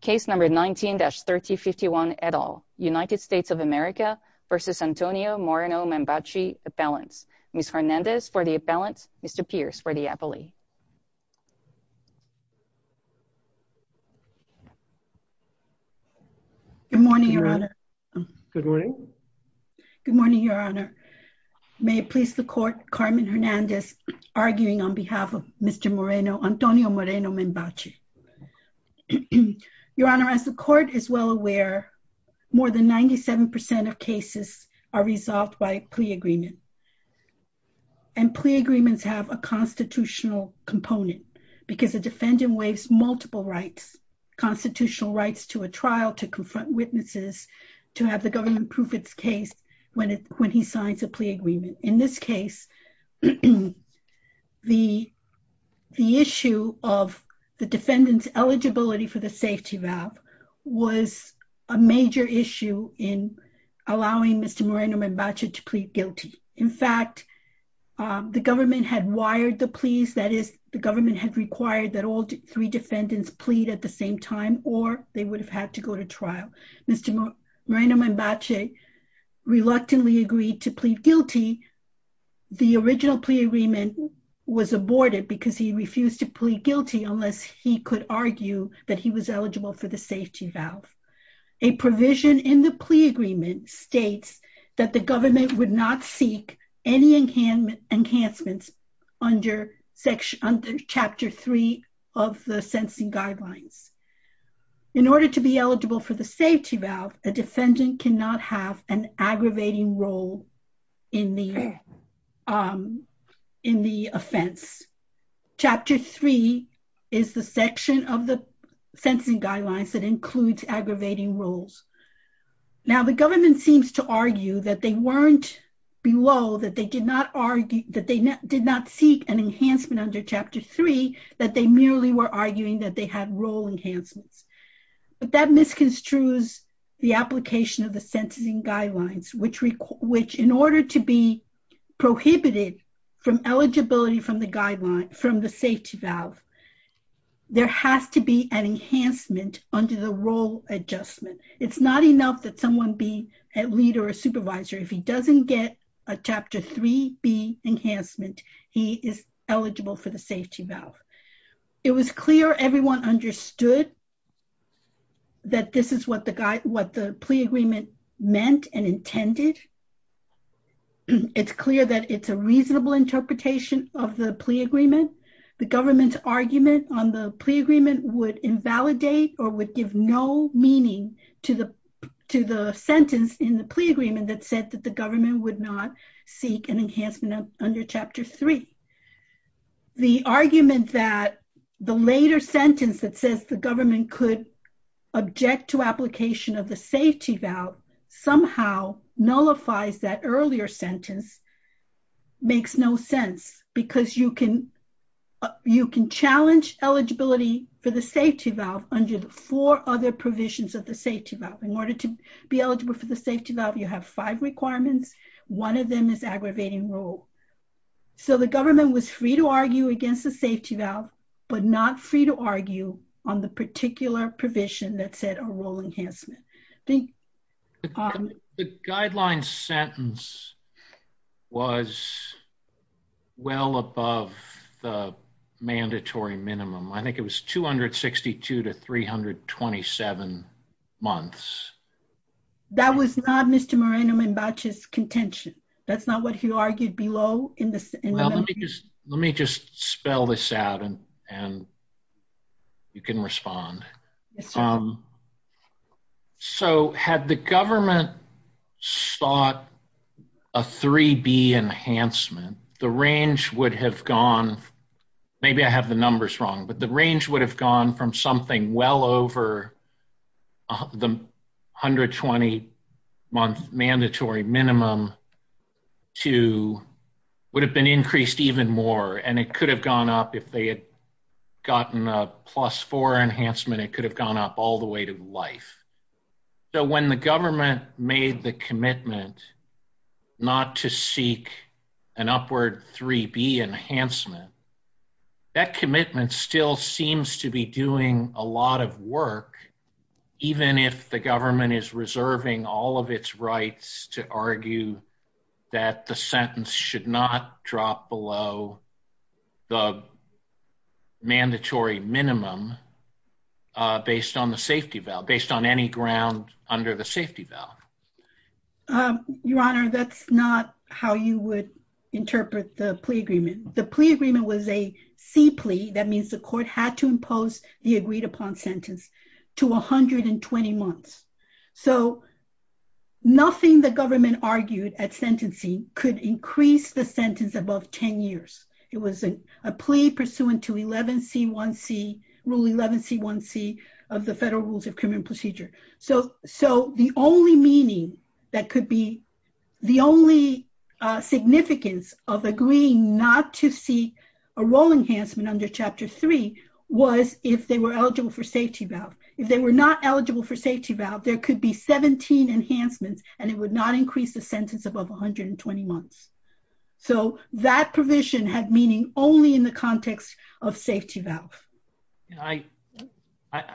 Case No. 19-3051, et al., United States of America v. Antonio Moreno-Membache, appellants. Ms. Hernandez for the appellants, Mr. Pierce for the appellee. Good morning, Your Honor. Good morning. Good morning, Your Honor. May it please the Court, Carmen Hernandez arguing on behalf of Mr. Moreno, Antonio Moreno-Membache. Your Honor, as the Court is well aware, more than 97% of cases are resolved by plea agreement. And plea agreements have a constitutional component because a defendant waives multiple rights, constitutional rights to a trial, to confront witnesses, to have the government prove its case when he signs a plea agreement. In this case, the issue of the defendant's eligibility for the safety valve was a major issue in allowing Mr. Moreno-Membache to plead guilty. In fact, the government had wired the pleas, that is, the government had required that all three defendants plead at the same time or they would have had to go to trial. Mr. Moreno-Membache reluctantly agreed to plead guilty. The original plea agreement was aborted because he refused to plead guilty unless he could argue that he was eligible for the safety valve. A provision in the plea agreement states that the government would not seek any enhancements under Chapter 3 of the sentencing guidelines. In order to be eligible for the safety valve, a defendant cannot have an aggravating role in the offense. Chapter 3 is the section of the sentencing guidelines that includes aggravating roles. Now, the government seems to argue that they weren't below, that they did not seek an enhancement under Chapter 3, that they merely were arguing that they had role enhancements. But that misconstrues the application of the sentencing guidelines, which in order to be prohibited from eligibility from the safety valve, there has to be an enhancement under the role adjustment. It's not enough that someone be a leader or supervisor. If he doesn't get a Chapter 3B enhancement, he is eligible for the safety valve. It was clear everyone understood that this is what the plea agreement meant and intended. It's clear that it's a reasonable interpretation of the plea agreement. The government's argument on the plea agreement would invalidate or would give no meaning to the sentence in the plea agreement that said that the government would not seek an enhancement under Chapter 3. The argument that the later sentence that says the government could object to application of the safety valve somehow nullifies that earlier sentence makes no sense. Because you can challenge eligibility for the safety valve under the four other provisions of the safety valve. In order to be eligible for the safety valve, you have five requirements. One of them is aggravating role. So the government was free to argue against the safety valve, but not free to argue on the particular provision that said a role enhancement. The guideline sentence was well above the mandatory minimum. I think it was 262 to 327 months. That was not Mr. Moreno-Mimbache's contention. That's not what he argued below. Let me just spell this out and you can respond. So had the government sought a 3B enhancement, the range would have gone. Maybe I have the numbers wrong, but the range would have gone from something well over the 120-month mandatory minimum to would have been increased even more. And it could have gone up if they had gotten a plus-4 enhancement. It could have gone up all the way to life. So when the government made the commitment not to seek an upward 3B enhancement, that commitment still seems to be doing a lot of work. Even if the government is reserving all of its rights to argue that the sentence should not drop below the mandatory minimum based on the safety valve, based on any ground under the safety valve. Your Honor, that's not how you would interpret the plea agreement. The plea agreement was a C plea. That means the court had to impose the agreed-upon sentence to 120 months. So nothing the government argued at sentencing could increase the sentence above 10 years. It was a plea pursuant to Rule 11C1C of the Federal Rules of Criminal Procedure. So the only meaning that could be the only significance of agreeing not to seek a role enhancement under Chapter 3 was if they were eligible for safety valve. If they were not eligible for safety valve, there could be 17 enhancements, and it would not increase the sentence above 120 months. So that provision had meaning only in the context of safety valve. I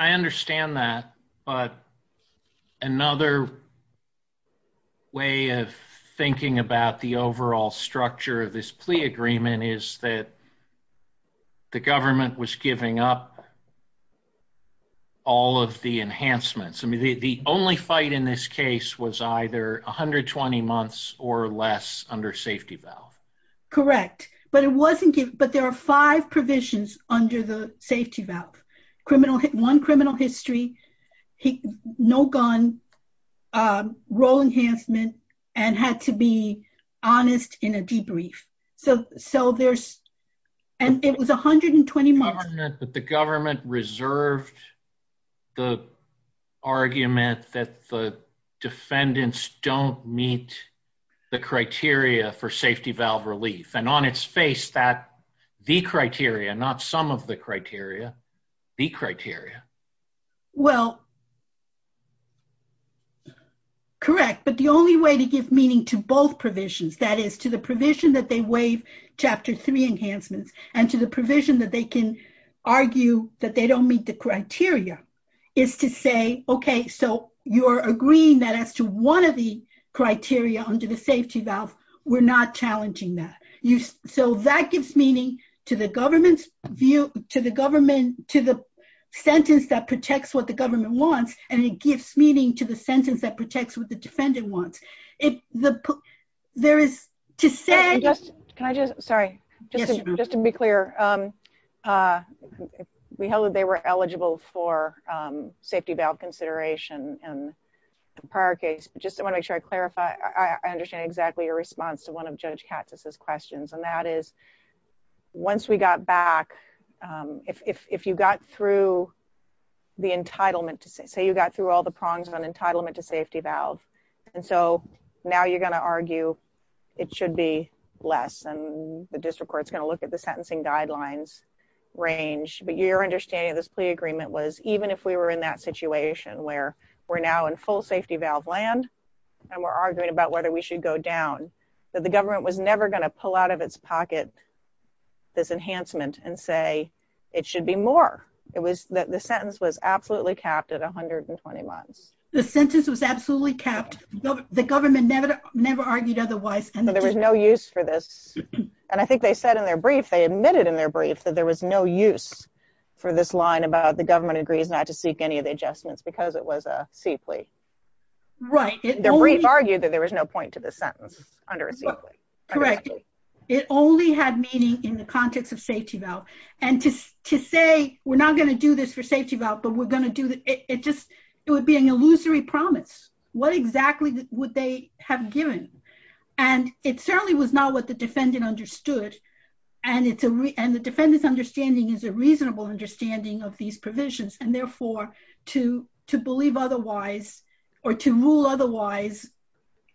understand that, but another way of thinking about the overall structure of this plea agreement is that the government was giving up all of the enhancements. I mean, the only fight in this case was either 120 months or less under safety valve. Correct, but there are five provisions under the safety valve. One, criminal history, no gun, role enhancement, and had to be honest in a debrief. And it was 120 months. But the government reserved the argument that the defendants don't meet the criteria for safety valve relief. And on its face, the criteria, not some of the criteria, the criteria. Well, correct. But the only way to give meaning to both provisions, that is to the provision that they waive Chapter 3 enhancements and to the provision that they can argue that they don't meet the criteria, is to say, okay, so you're agreeing that as to one of the criteria under the safety valve, we're not challenging that. So that gives meaning to the government's view, to the sentence that protects what the government wants, and it gives meaning to the sentence that protects what the defendant wants. There is to say- Can I just, sorry, just to be clear, we held that they were eligible for safety valve consideration in the prior case, but just to make sure I clarify, I understand exactly your response to one of Judge Katz's questions. And that is, once we got back, if you got through the entitlement, say you got through all the prongs on entitlement to safety valve, and so now you're going to argue it should be less, and the district court's going to look at the sentencing guidelines range. But your understanding of this plea agreement was, even if we were in that situation where we're now in full safety valve land, and we're arguing about whether we should go down, that the government was never going to pull out of its pocket this enhancement and say it should be more. It was that the sentence was absolutely capped at 120 months. The sentence was absolutely capped. The government never, never argued otherwise. And there was no use for this. And I think they said in their brief, they admitted in their brief that there was no use for this line about the government agrees not to seek any of the adjustments because it was a C plea. Right. Their brief argued that there was no point to the sentence under a C plea. Correct. It only had meaning in the context of safety valve. And to say, we're not going to do this for safety valve, but we're going to do it just, it would be an illusory promise. What exactly would they have given? And it certainly was not what the defendant understood. And the defendant's understanding is a reasonable understanding of these provisions and therefore to believe otherwise, or to rule otherwise,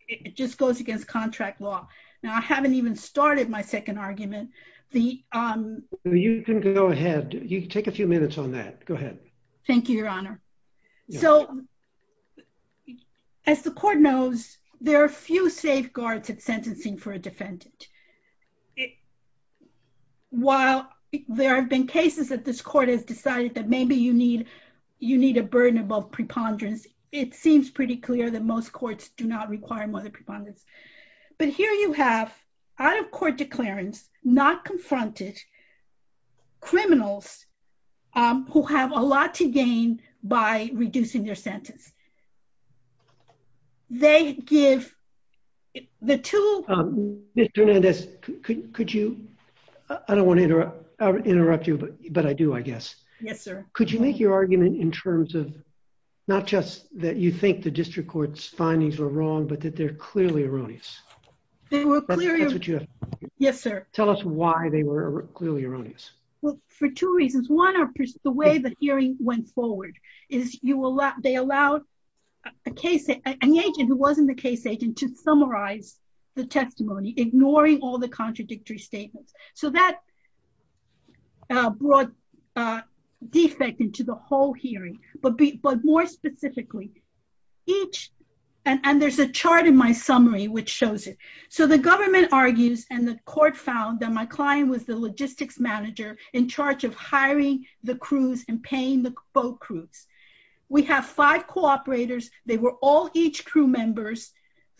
it just goes against contract law. Now I haven't even started my second argument. You can go ahead. You can take a few minutes on that. Go ahead. Thank you, Your Honor. So, as the court knows, there are few safeguards at sentencing for a defendant. While there have been cases that this court has decided that maybe you need, you need a burden above preponderance, it seems pretty clear that most courts do not require more than preponderance. But here you have out-of-court declarants, not confronted, criminals who have a lot to gain by reducing their sentence. They give the two... Mr. Hernandez, could you, I don't want to interrupt you, but I do, I guess. Yes, sir. Could you make your argument in terms of, not just that you think the district court's findings are wrong, but that they're clearly erroneous? They were clearly... That's what you have to say. Yes, sir. Tell us why they were clearly erroneous. Well, for two reasons. One, the way the hearing went forward is they allowed an agent who wasn't the case agent to summarize the testimony, ignoring all the contradictory statements. So that brought defect into the whole hearing. But more specifically, each... And there's a chart in my summary which shows it. So the government argues and the court found that my client was the logistics manager in charge of hiring the crews and paying the boat crews. We have five cooperators. They were all each crew members.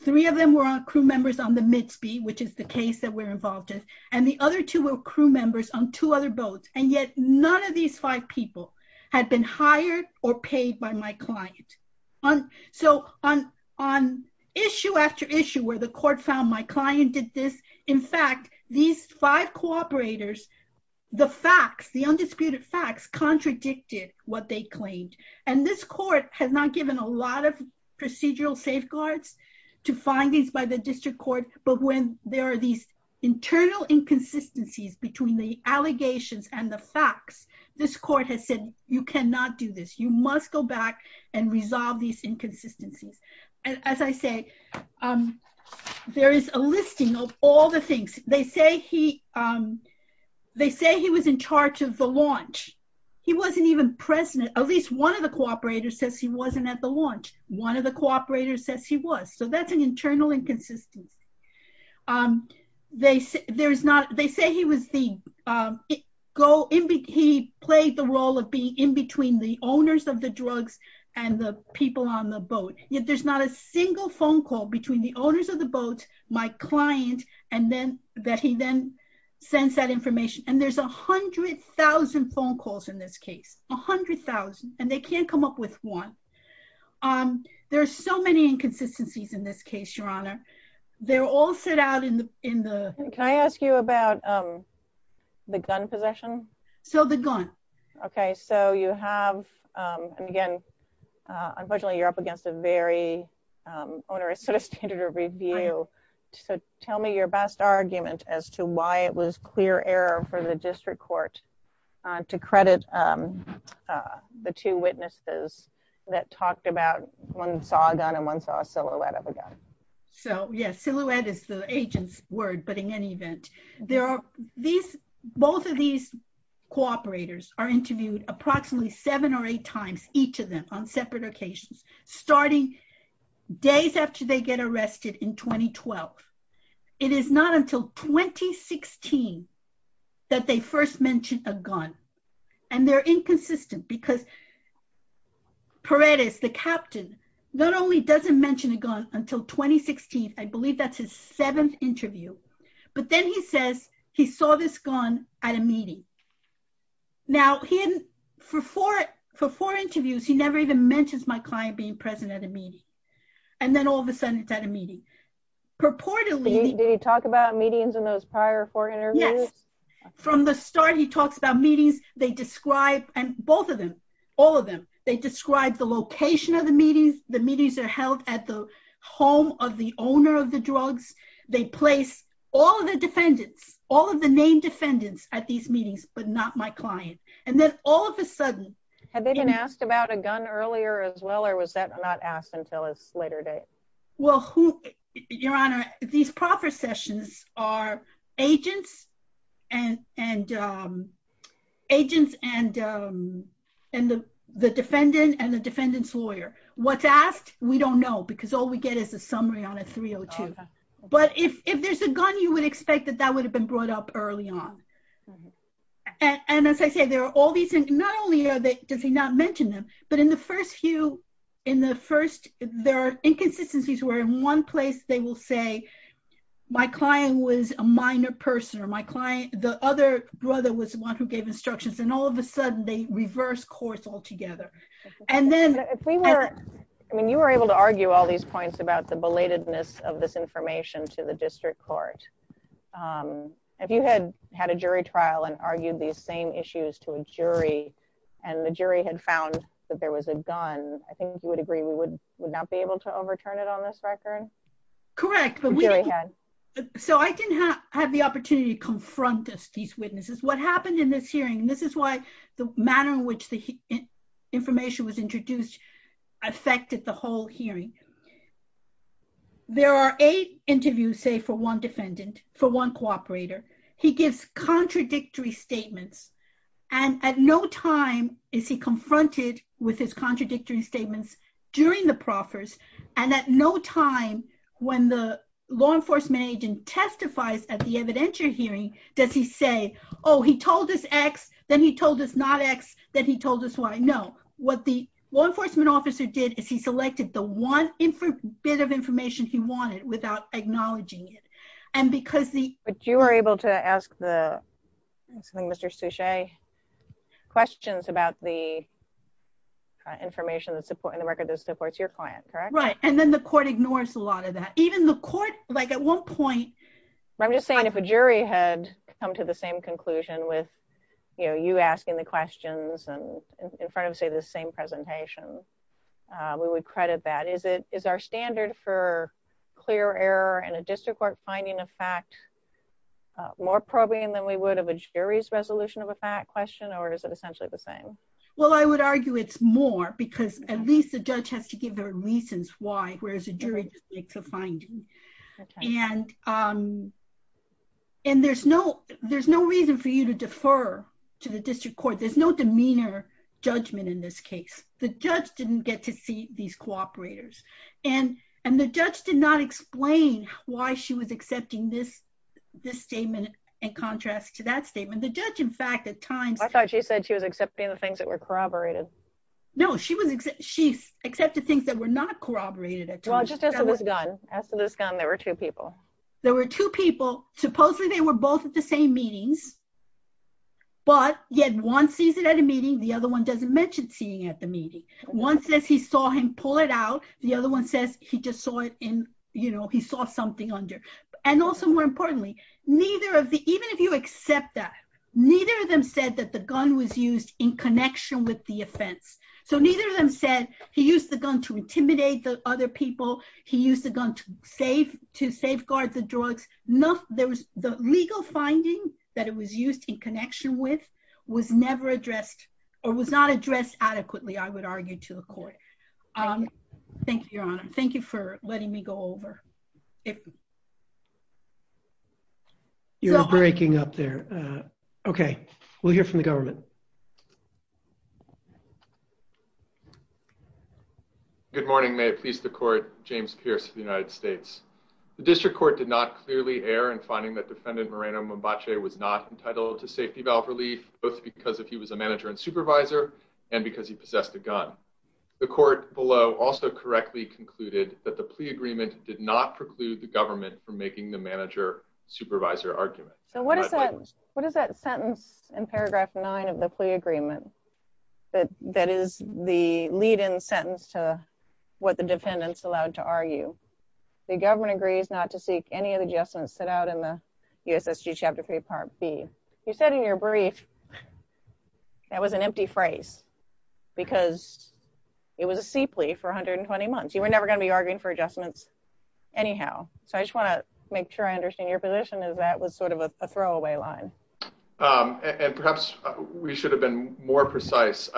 Three of them were crew members on the Midsby, which is the case that we're involved in. And the other two were crew members on two other boats. And yet none of these five people had been hired or paid by my client. So on issue after issue where the court found my client did this, in fact, these five cooperators, the facts, the undisputed facts, contradicted what they claimed. And this court has not given a lot of procedural safeguards to findings by the district court. But when there are these internal inconsistencies between the allegations and the facts, this court has said, you cannot do this. You must go back and resolve these inconsistencies. As I say, there is a listing of all the things. They say he was in charge of the launch. He wasn't even present. At least one of the cooperators says he wasn't at the launch. One of the cooperators says he was. So that's an internal inconsistency. They say he played the role of being in between the owners of the drugs and the people on the boat. Yet there's not a single phone call between the owners of the boat, my client, and then that he then sends that information. And there's 100,000 phone calls in this case. 100,000. And they can't come up with one. There are so many inconsistencies in this case, Your Honor. They're all set out in the... Can I ask you about the gun possession? So the gun. Okay, so you have, and again, unfortunately you're up against a very onerous sort of standard of review. So tell me your best argument as to why it was clear error for the district court to credit the two witnesses that talked about one saw a gun and one saw a silhouette of a gun. So yes, silhouette is the agent's word, but in any event, both of these cooperators are interviewed approximately seven or eight times, each of them on separate occasions, starting days after they get arrested in 2012. It is not until 2016 that they first mentioned a gun. And they're inconsistent because Paredes, the captain, not only doesn't mention a gun until 2016, I believe that's his seventh interview, but then he says he saw this gun at a meeting. Now, for four interviews, he never even mentions my client being present at a meeting. And then all of a sudden it's at a meeting. Did he talk about meetings in those prior four interviews? Yes. From the start, he talks about meetings, they describe, and both of them, all of them, they describe the location of the meetings, the meetings are held at the home of the owner of the drugs. They place all of the defendants, all of the named defendants at these meetings, but not my client. And then all of a sudden... Had they been asked about a gun earlier as well, or was that not asked until a later date? Well, Your Honor, these processions are agents and the defendant and the defendant's lawyer. What's asked, we don't know because all we get is a summary on a 302. But if there's a gun, you would expect that that would have been brought up early on. And as I say, there are all these, not only does he not mention them, but in the first few, in the first, there are inconsistencies where in one place they will say, my client was a minor person or my client, the other brother was the one who gave instructions and all of a sudden they reverse course altogether. I mean, you were able to argue all these points about the belatedness of this information to the district court. If you had had a jury trial and argued these same issues to a jury, and the jury had found that there was a gun, I think you would agree we would not be able to overturn it on this record? Correct. So I didn't have the opportunity to confront these witnesses. What happened in this hearing, this is why the manner in which the information was introduced affected the whole hearing. There are eight interviews, say for one defendant, for one cooperator. He gives contradictory statements. And at no time is he confronted with his contradictory statements during the proffers. And at no time, when the law enforcement agent testifies at the evidentiary hearing, does he say, oh, he told us X, then he told us not X, then he told us Y. No. What the law enforcement officer did is he selected the one bit of information he wanted without acknowledging it. But you were able to ask Mr. Suchet questions about the information in the record that supports your client, correct? Right. And then the court ignores a lot of that. Even the court, like at one point... I'm just saying if a jury had come to the same conclusion with you asking the questions in front of, say, the same presentation, we would credit that. Is our standard for clear error in a district court finding a fact more probing than we would have a jury's resolution of a fact question, or is it essentially the same? Well, I would argue it's more, because at least the judge has to give their reasons why, whereas a jury just makes a finding. And there's no reason for you to defer to the district court. There's no demeanor judgment in this case. The judge didn't get to see these cooperators. And the judge did not explain why she was accepting this statement in contrast to that statement. The judge, in fact, at times... I thought she said she was accepting the things that were corroborated. No, she accepted things that were not corroborated. Well, just as to this gun. As to this gun, there were two people. There were two people. Supposedly, they were both at the same meetings. But yet one sees it at a meeting, the other one doesn't mention seeing it at the meeting. One says he saw him pull it out. The other one says he just saw it in, you know, he saw something under. And also, more importantly, even if you accept that, neither of them said that the gun was used in connection with the offense. So neither of them said he used the gun to intimidate the other people. He used the gun to safeguard the drugs. The legal finding that it was used in connection with was never addressed, or was not addressed adequately, I would argue, to the court. Thank you, Your Honor. Thank you for letting me go over. You're breaking up there. Okay, we'll hear from the government. Good morning. May it please the court, James Pierce of the United States. The district court did not clearly err in finding that defendant Moreno Mombache was not entitled to safety valve relief, both because he was a manager and supervisor, and because he possessed a gun. The court below also correctly concluded that the plea agreement did not preclude the government from making the manager-supervisor argument. So what is that sentence in paragraph nine of the plea agreement that is the lead-in sentence to what the defendants allowed to argue? The government agrees not to seek any of the adjustments set out in the USSG Chapter 3, Part B. You said in your brief, that was an empty phrase, because it was a C plea for 120 months. You were never going to be arguing for adjustments anyhow. So I just want to make sure I understand your position is that was sort of a throwaway line. And perhaps we should have been more precise.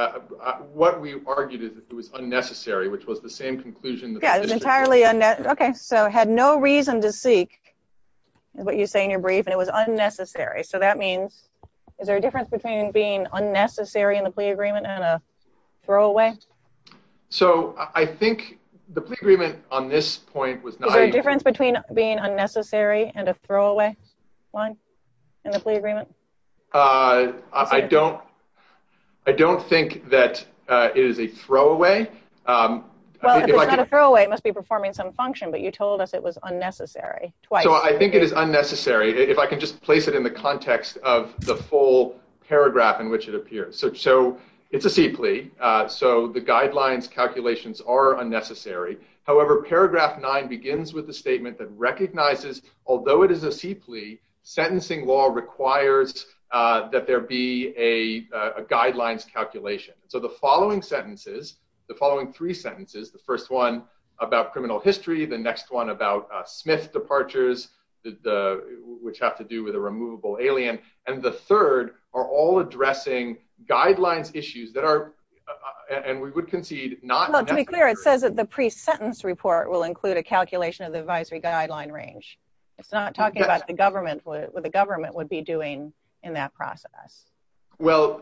What we argued is that it was unnecessary, which was the same conclusion. Yeah, it was entirely unnecessary. Okay, so had no reason to seek, is what you say in your brief, and it was unnecessary. So that means, is there a difference between being unnecessary in the plea agreement and a throwaway? So I think the plea agreement on this point was not… Is there a difference between being unnecessary and a throwaway line in the plea agreement? I don't think that it is a throwaway. Well, if it's not a throwaway, it must be performing some function, but you told us it was unnecessary twice. So I think it is unnecessary, if I can just place it in the context of the full paragraph in which it appears. So it's a C plea. So the guidelines calculations are unnecessary. However, paragraph nine begins with the statement that recognizes, although it is a C plea, sentencing law requires that there be a guidelines calculation. So the following sentences, the following three sentences, the first one about criminal history, the next one about Smith departures, which have to do with a removable alien, and the third are all addressing guidelines issues that are, and we would concede, not necessary. Well, to be clear, it says that the pre-sentence report will include a calculation of the advisory guideline range. It's not talking about the government, what the government would be doing in that process. Well,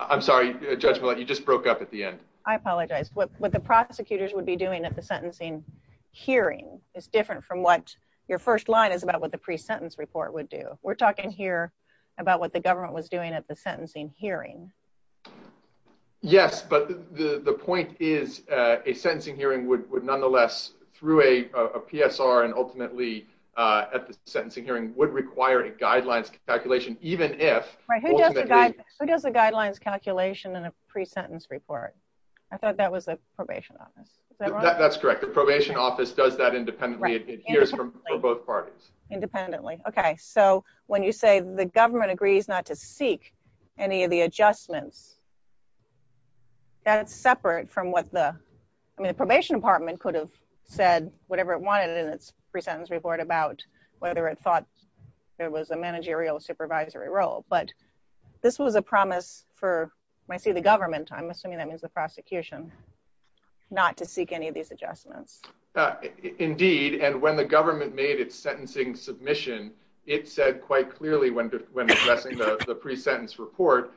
I'm sorry, Judge Millett, you just broke up at the end. I apologize. What the prosecutors would be doing at the sentencing hearing is different from what your first line is about what the pre-sentence report would do. We're talking here about what the government was doing at the sentencing hearing. Yes, but the point is a sentencing hearing would nonetheless through a PSR and ultimately at the sentencing hearing would require a guidelines calculation, even if... Who does the guidelines calculation in a pre-sentence report? I thought that was the probation office. That's correct. The probation office does that independently. It hears from both parties. Okay, so when you say the government agrees not to seek any of the adjustments, that's separate from what the, I mean, the probation department could have said whatever it wanted in its pre-sentence report about whether it thought there was a managerial supervisory role, but this was a promise for, when I say the government, I'm assuming that means the prosecution, not to seek any of these adjustments. Indeed, and when the government made its sentencing submission, it said quite clearly when addressing the pre-sentence report,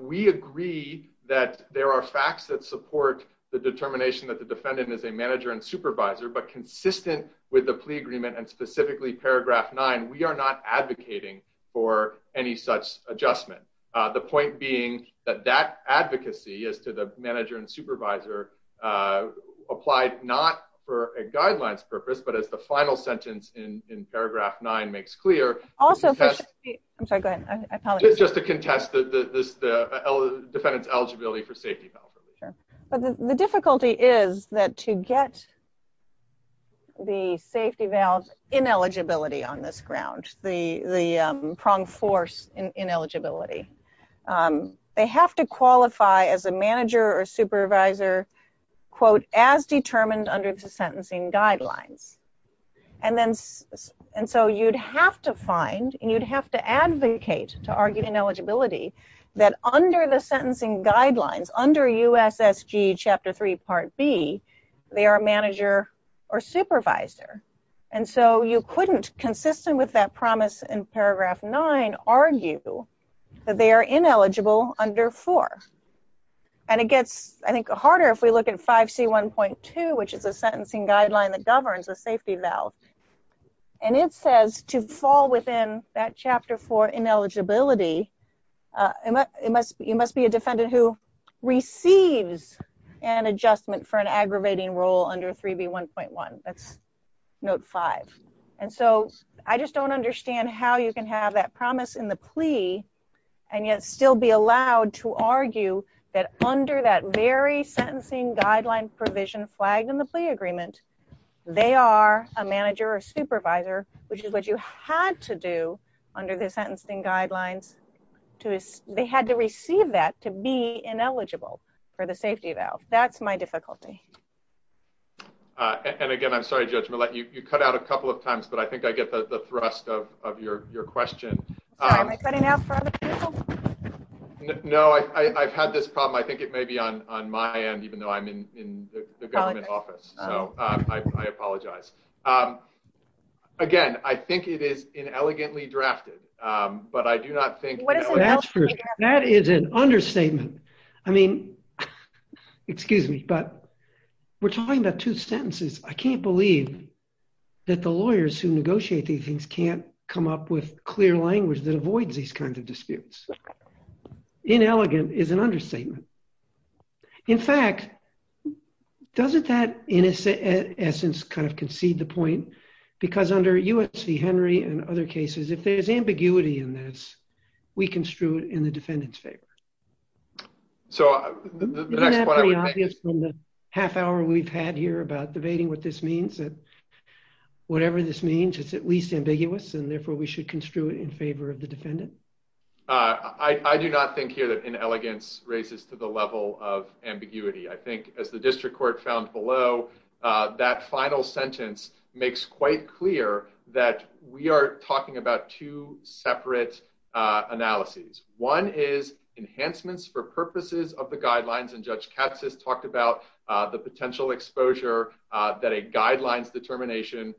we agree that there are facts that support the determination that the defendant is a manager and supervisor, but consistent with the plea agreement and specifically paragraph nine, we are not advocating for any such adjustment. The point being that that advocacy as to the manager and supervisor applied not for a guidelines purpose, but as the final sentence in paragraph nine makes clear... Also... I'm sorry, go ahead. Just to contest the defendant's eligibility for safety vows. The difficulty is that to get the safety vows ineligibility on this ground, the prong force ineligibility, they have to qualify as a manager or supervisor, quote, as determined under the sentencing guidelines. And so you'd have to find and you'd have to advocate to argue ineligibility that under the sentencing guidelines, under USSG chapter three, part B, they are a manager or supervisor. And so you couldn't, consistent with that promise in paragraph nine, argue that they are ineligible under four. And it gets, I think, harder if we look at 5C1.2, which is a sentencing guideline that governs a safety vow. And it says to fall within that chapter for ineligibility, it must be a defendant who receives an adjustment for an aggravating role under 3B1.1. That's note five. And so I just don't understand how you can have that promise in the plea and yet still be allowed to argue that under that very sentencing guideline provision flagged in the plea agreement, they are a manager or supervisor, which is what you had to do under the sentencing guidelines. They had to receive that to be ineligible for the safety vow. That's my difficulty. And again, I'm sorry, Judge Millett, you cut out a couple of times, but I think I get the thrust of your question. No, I've had this problem. I think it may be on my end, even though I'm in the government office. So I apologize. Again, I think it is inelegantly drafted, but I do not think That is an understatement. I mean, excuse me, but we're talking about two sentences. I can't believe that the lawyers who negotiate these things can't come up with clear language that avoids these kinds of disputes. Inelegant is an understatement. In fact, doesn't that, in essence, kind of concede the point because under US v. Henry and other cases, if there's ambiguity in this, we construe it in the defendant's favor. So the next Half hour we've had here about debating what this means that Whatever this means it's at least ambiguous and therefore we should construe it in favor of the defendant. I do not think here that in elegance raises to the level of ambiguity. I think as the district court found below That final sentence makes quite clear that we are talking about two separate Analyses. One is enhancements for purposes of the guidelines and Judge Katz has talked about the potential exposure that a guidelines determination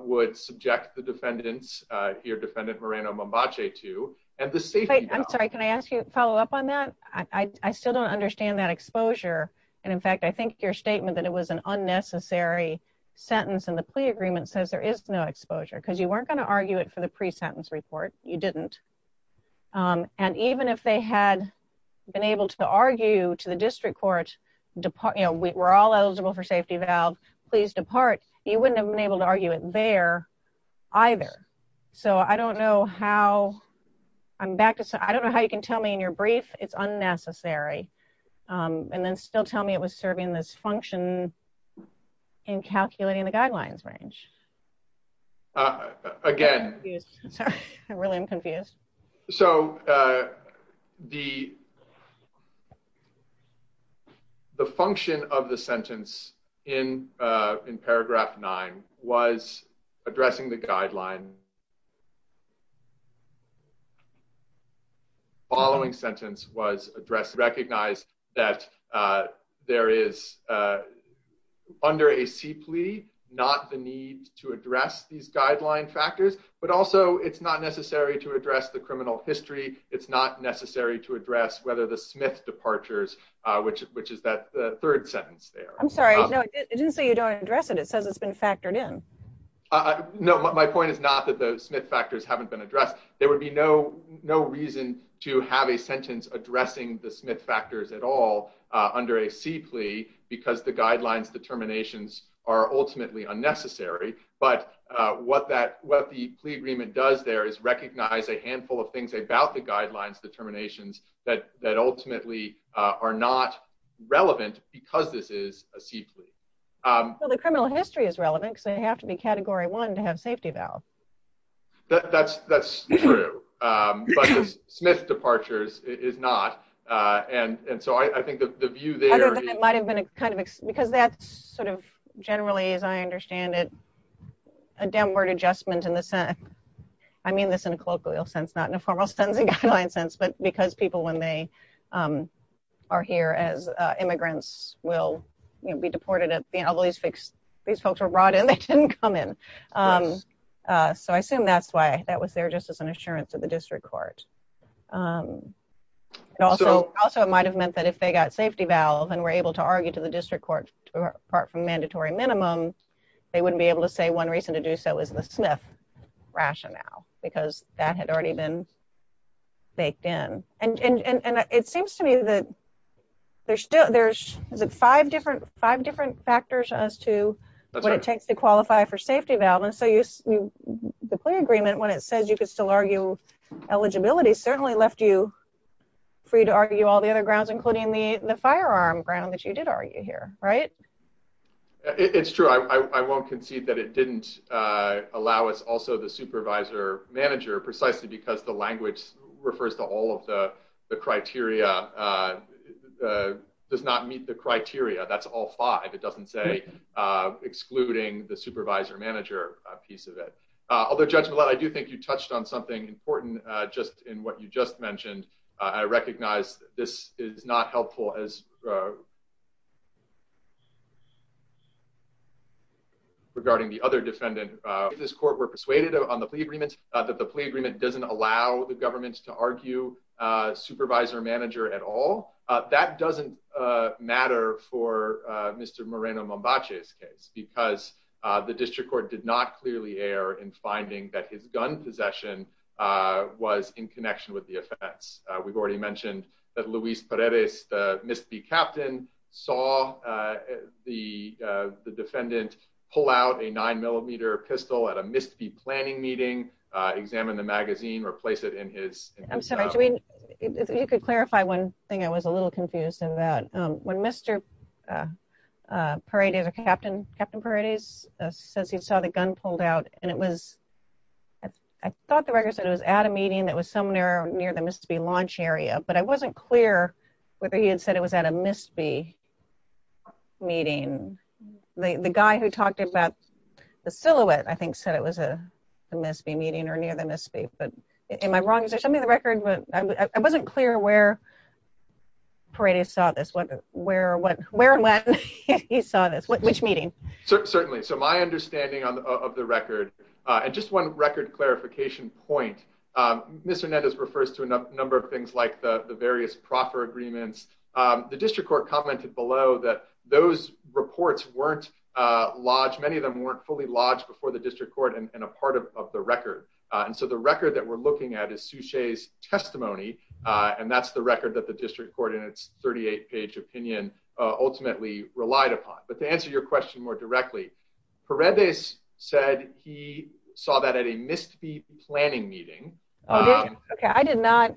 would subject the defendants here defendant Moreno Mombache to and the state. I'm sorry, can I ask you, follow up on that. I still don't understand that exposure. And in fact, I think your statement that it was an unnecessary. Sentence and the plea agreement says there is no exposure because you weren't going to argue it for the pre sentence report. You didn't And even if they had been able to argue to the district court depart. You know, we were all eligible for safety valve please depart. You wouldn't have been able to argue it there. Either. So I don't know how I'm back to. So I don't know how you can tell me in your brief, it's unnecessary. And then still tell me it was serving this function. In calculating the guidelines range. Again, I really am confused. So The The function of the sentence in in paragraph nine was addressing the guideline. Following sentence was addressed recognize that there is Under a simply not the need to address these guideline factors, but also it's not necessary to address the criminal history. It's not necessary to address whether the Smith departures, which, which is that the third sentence there. I'm sorry. No, it didn't say you don't address it. It says it's been factored in No, my point is not that the Smith factors haven't been addressed, there would be no no reason to have a sentence addressing the Smith factors at all. Under a simply because the guidelines determinations are ultimately unnecessary. But what that what the plea agreement does there is recognize a handful of things about the guidelines determinations that that ultimately are not relevant because this is a simply The criminal history is relevant. So you have to be category one to have safety valve. That's, that's true. Smith departures is not. And so I think the view there might have been kind of because that's sort of generally as I understand it. A downward adjustment in the Senate. I mean, this in a colloquial sense, not in a formal sense, a guideline sense, but because people when they Are here as immigrants will be deported at the end of all these fix these folks are brought in. They didn't come in. So I assume that's why that was there just as an assurance of the district court. And also, also, it might have meant that if they got safety valve and were able to argue to the district court, apart from mandatory minimum They wouldn't be able to say one reason to do so is the Smith rationale because that had already been Baked in and and it seems to me that there's still there's five different five different factors as to what it takes to qualify for safety valve and so you The play agreement when it says you could still argue eligibility certainly left you free to argue all the other grounds, including the the firearm ground that you did argue here. Right. It's true. I won't concede that it didn't allow us also the supervisor manager precisely because the language refers to all of the criteria. Does not meet the criteria. That's all five. It doesn't say excluding the supervisor manager piece of it, although judgment. I do think you touched on something important just in what you just mentioned, I recognize this is not helpful as Regarding the other defendant. This court were persuaded on the agreements that the plea agreement doesn't allow the government to argue Supervisor manager at all. That doesn't matter for Mr. Moreno mom botches case because the district court did not clearly air and finding that his gun possession. Was in connection with the offense. We've already mentioned that Luis Perez misbehave captain saw the defendant pull out a nine millimeter pistol at a misbehave planning meeting examine the magazine replace it in his You could clarify one thing I was a little confused about when Mr. Parade is a captain, Captain parties says he saw the gun pulled out and it was I thought the record said it was at a meeting that was somewhere near them is to be launch area, but I wasn't clear whether he had said it was at a misbehave Meeting the the guy who talked about the silhouette. I think said it was a misbehave meeting or near the misbehave. But am I wrong. Is there something the record, but I wasn't clear where Parade is saw this one. Where, what, where, when you saw this which meeting. Certainly. So my understanding of the record and just one record clarification point. Mr net is refers to a number of things like the various proper agreements, the district court commented below that those reports weren't Lodge. Many of them weren't fully lodged before the district court and a part of the record. And so the record that we're looking at a sushi's testimony. And that's the record that the district court and it's 38 page opinion ultimately relied upon. But to answer your question more directly for read this said he saw that at a misbehave planning meeting. Okay, I did not.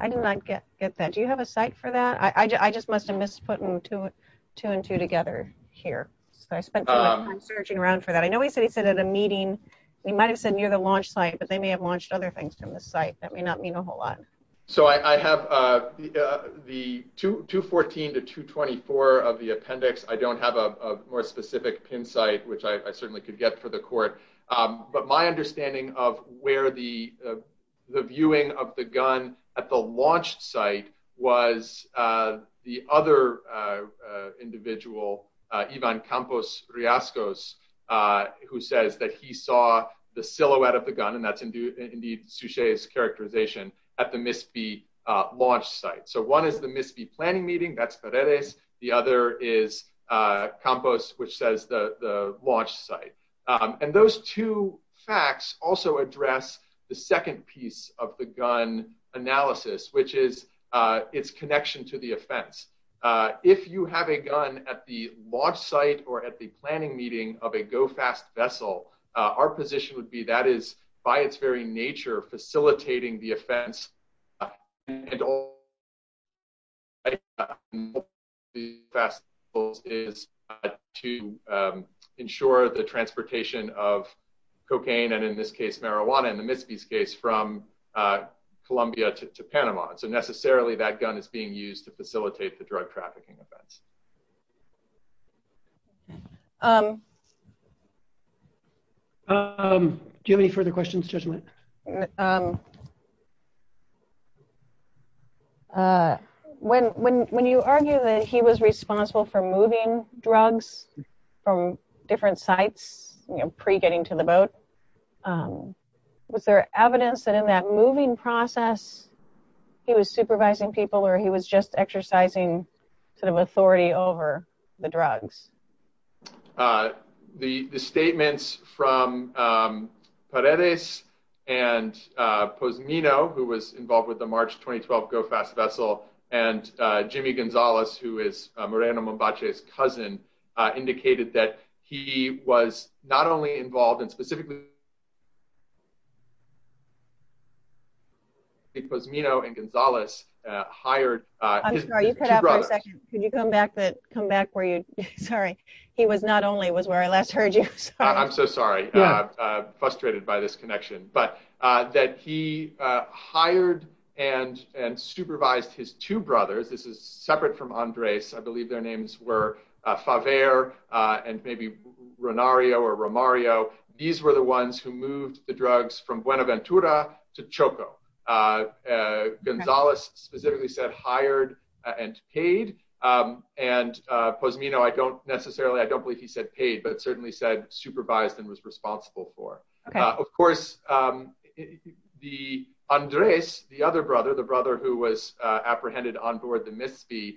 I did not get get that. Do you have a site for that I just must have missed putting two, two and two together here. So I spent Searching around for that. I know he said he said at a meeting, we might have said near the launch site, but they may have launched other things from the site that may not mean a whole lot. So I have the 214 to 224 of the appendix. I don't have a more specific pin site which I certainly could get for the court, but my understanding of where the He saw the silhouette of the gun and that's indeed sushi's characterization at the misbehave launch site. So one is the misbehave planning meeting. That's what it is. The other is Campos, which says the launch site and those two facts also address the second piece of the gun analysis, which is Its connection to the offense. If you have a gun at the launch site or at the planning meeting of a go fast vessel, our position would be that is by its very nature facilitating the offense and all The festivals is to ensure the transportation of cocaine and in this case marijuana and the misbehave case from Columbia to Panama. So necessarily that gun is being used to facilitate the drug trafficking events. Um, do you have any further questions judgment. When, when, when you argue that he was responsible for moving drugs from different sites, you know, pre getting to the boat. Was there evidence that in that moving process. He was supervising people or he was just exercising sort of authority over the drugs. The, the statements from Paredes and Pozumino who was involved with the March 2012 go fast vessel and Jimmy Gonzalez, who is Miranda Mombache's cousin indicated that he was not only involved in specifically It was, you know, and Gonzalez hired I'm sorry. Could you come back that come back for you. Sorry. He was not only was where I last heard you. I'm so sorry. Frustrated by this connection, but that he hired and and supervised his two brothers. This is separate from Andres I believe their names were five air and maybe Renario or Mario. These were the ones who moved the drugs from Buenaventura to Choco Gonzalez specifically said hired and paid and Pozumino I don't necessarily I don't believe he said paid but certainly said supervised and was responsible for, of course. The Andres. The other brother, the brother who was apprehended on board the misbe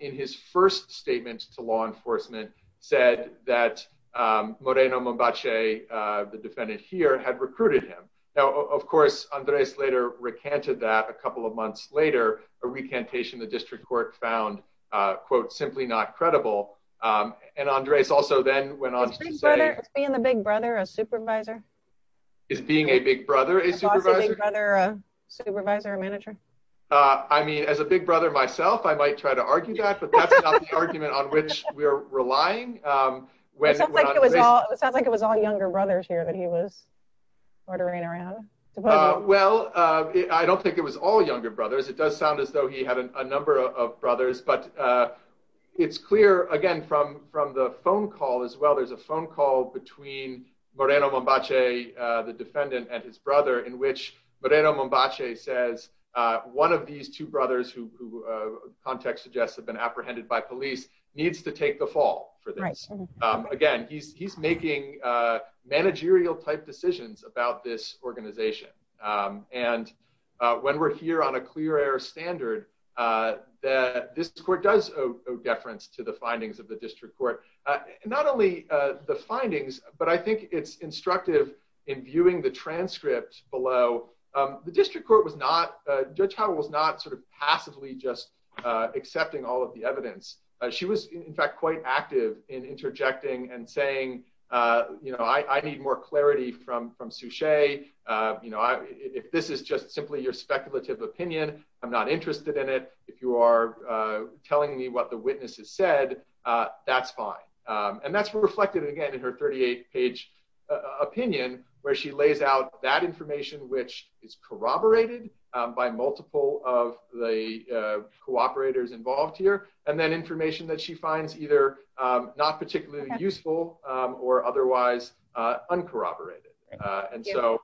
in his first statement to law enforcement said that Moreno Mombache the defendant here had recruited him. Now, of course, Andres later recanted that a couple of months later, a recantation the district court found quote simply not credible and Andres also then went on to say Being the big brother, a supervisor. Is being a big brother, a supervisor. Supervisor manager. I mean, as a big brother myself. I might try to argue that Argument on which we're relying When it sounds like it was all younger brothers here that he was ordering around. Well, I don't think it was all younger brothers. It does sound as though he had a number of brothers, but It's clear again from from the phone call as well. There's a phone call between Moreno Mombache the defendant and his brother in which Moreno Mombache says One of these two brothers who context suggests have been apprehended by police needs to take the fall for this. Again, he's he's making managerial type decisions about this organization. And when we're here on a clear air standard This court does deference to the findings of the district court, not only the findings, but I think it's instructive in viewing the transcript below The district court was not judge how was not sort of passively just accepting all of the evidence. She was in fact quite active in interjecting and saying You know, I need more clarity from from sushi. You know, if this is just simply your speculative opinion. I'm not interested in it. If you are Telling me what the witnesses said that's fine. And that's reflected again in her 38 page opinion where she lays out that information which is corroborated By multiple of the cooperators involved here and then information that she finds either not particularly useful or otherwise uncorroborated and so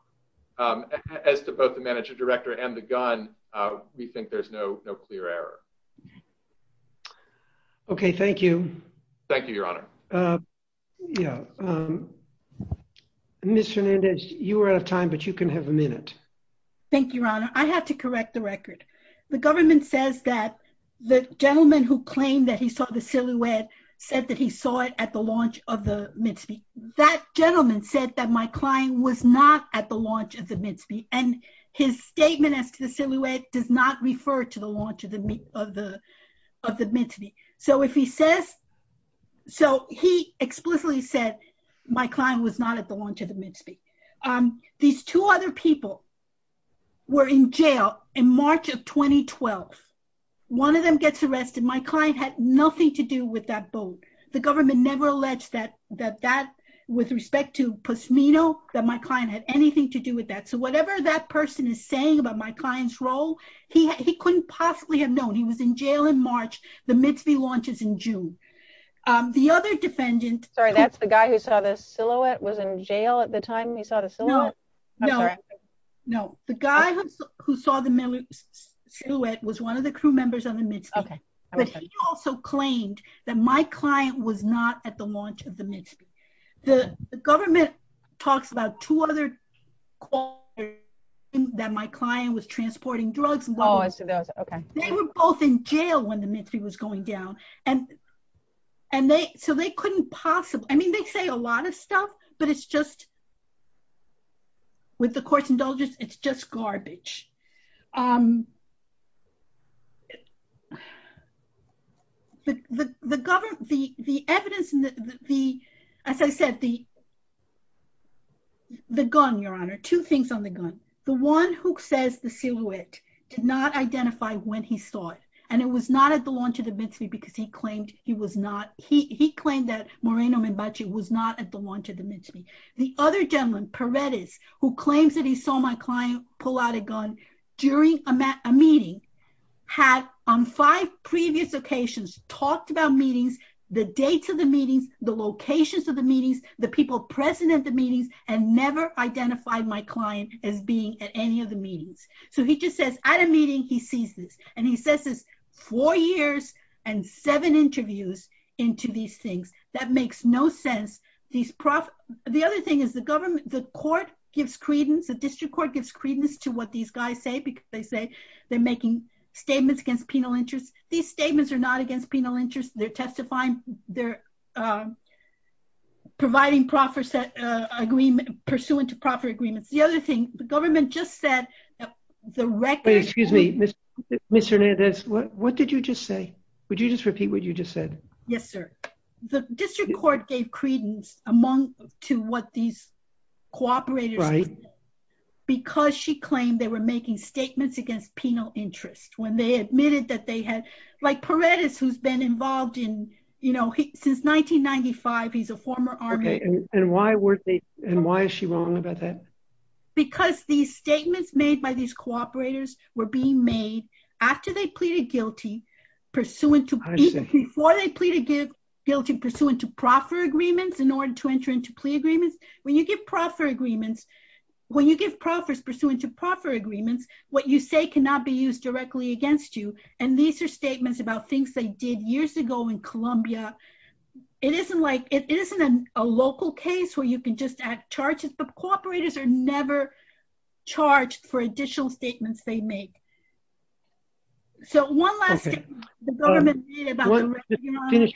As to both the manager director and the gun. We think there's no clear error. Okay, thank you. Thank you, Your Honor. Yeah. Miss Fernandez, you are out of time, but you can have a minute. Thank you, Your Honor, I have to correct the record. The government says that the gentleman who claimed that he saw the silhouette said that he saw it at the launch of the Mitzvah. That gentleman said that my client was not at the launch of the Mitzvah and his statement as to the silhouette does not refer to the launch of the of the of the Mitzvah. So if he says So he explicitly said my client was not at the launch of the Mitzvah These two other people were in jail in March of 2012 One of them gets arrested. My client had nothing to do with that boat. The government never alleged that that that With respect to Posnino that my client had anything to do with that. So whatever that person is saying about my client's role. He couldn't possibly have known he was in jail in March, the Mitzvah launches in June. The other defendant. Sorry, that's the guy who saw the silhouette was in jail at the time he saw the silhouette. No, no, no. The guy who saw the silhouette was one of the crew members on the Mitzvah. But he also claimed that my client was not at the launch of the Mitzvah. The government talks about two other That my client was transporting drugs. They were both in jail when the Mitzvah was going down and and they so they couldn't possible. I mean, they say a lot of stuff, but it's just With the courts indulgence. It's just garbage. The government, the, the evidence and the, as I said, the The gun, Your Honor. Two things on the gun. The one who says the silhouette did not identify when he saw it. And it was not at the launch of the Mitzvah because he claimed he was not he claimed that Moreno Minbachi was not at the launch of the Mitzvah. The other gentleman, Paredes, who claims that he saw my client pull out a gun during a meeting. Had on five previous occasions talked about meetings, the dates of the meetings, the locations of the meetings, the people present at the meetings and never identified my client as being at any of the meetings. So he just says at a meeting. He sees this and he says is four years and seven interviews into these things that makes no sense. These profit. The other thing is the government, the court gives credence the district court gives credence to what these guys say because they say they're making statements against penal interest. These statements are not against penal interest. They're testifying they're Providing profit set agreement pursuant to profit agreements. The other thing, the government just said the record. Excuse me, Mr. Hernandez. What did you just say, would you just repeat what you just said. Yes, sir. The district court gave credence among to what these cooperators Because she claimed they were making statements against penal interest when they admitted that they had like Paredes, who's been involved in, you know, since 1995 he's a former army. And why were they and why is she wrong about that. Because these statements made by these cooperators were being made after they pleaded guilty. Pursuant to guilty pursuant to proffer agreements in order to enter into plea agreements when you get proffer agreements. When you give proffers pursuant to proffer agreements, what you say cannot be used directly against you. And these are statements about things they did years ago in Columbia. It isn't like it isn't a local case where you can just add charges, but cooperators are never charged for additional statements they make So one last Finish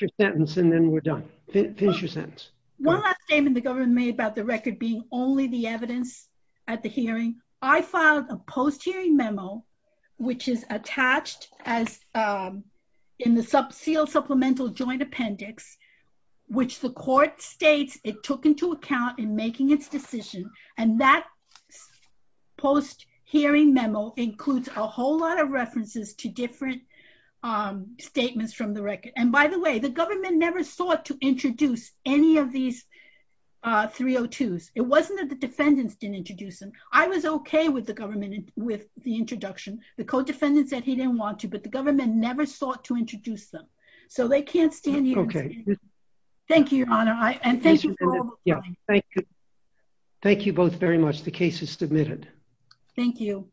your sentence and then we're done. Finish your sentence. One last statement the government made about the record being only the evidence at the hearing. I filed a post hearing memo, which is attached as In the sub seal supplemental joint appendix, which the court states it took into account in making its decision and that Post hearing memo includes a whole lot of references to different Statements from the record. And by the way, the government never sought to introduce any of these 302s. It wasn't that the defendants didn't introduce them. I was okay with the government with the introduction, the code defendants that he didn't want to, but the government never sought to introduce them so they can't stand here. Okay. Thank you. And thank you. Thank you. Thank you both very much. The case is submitted. Thank you.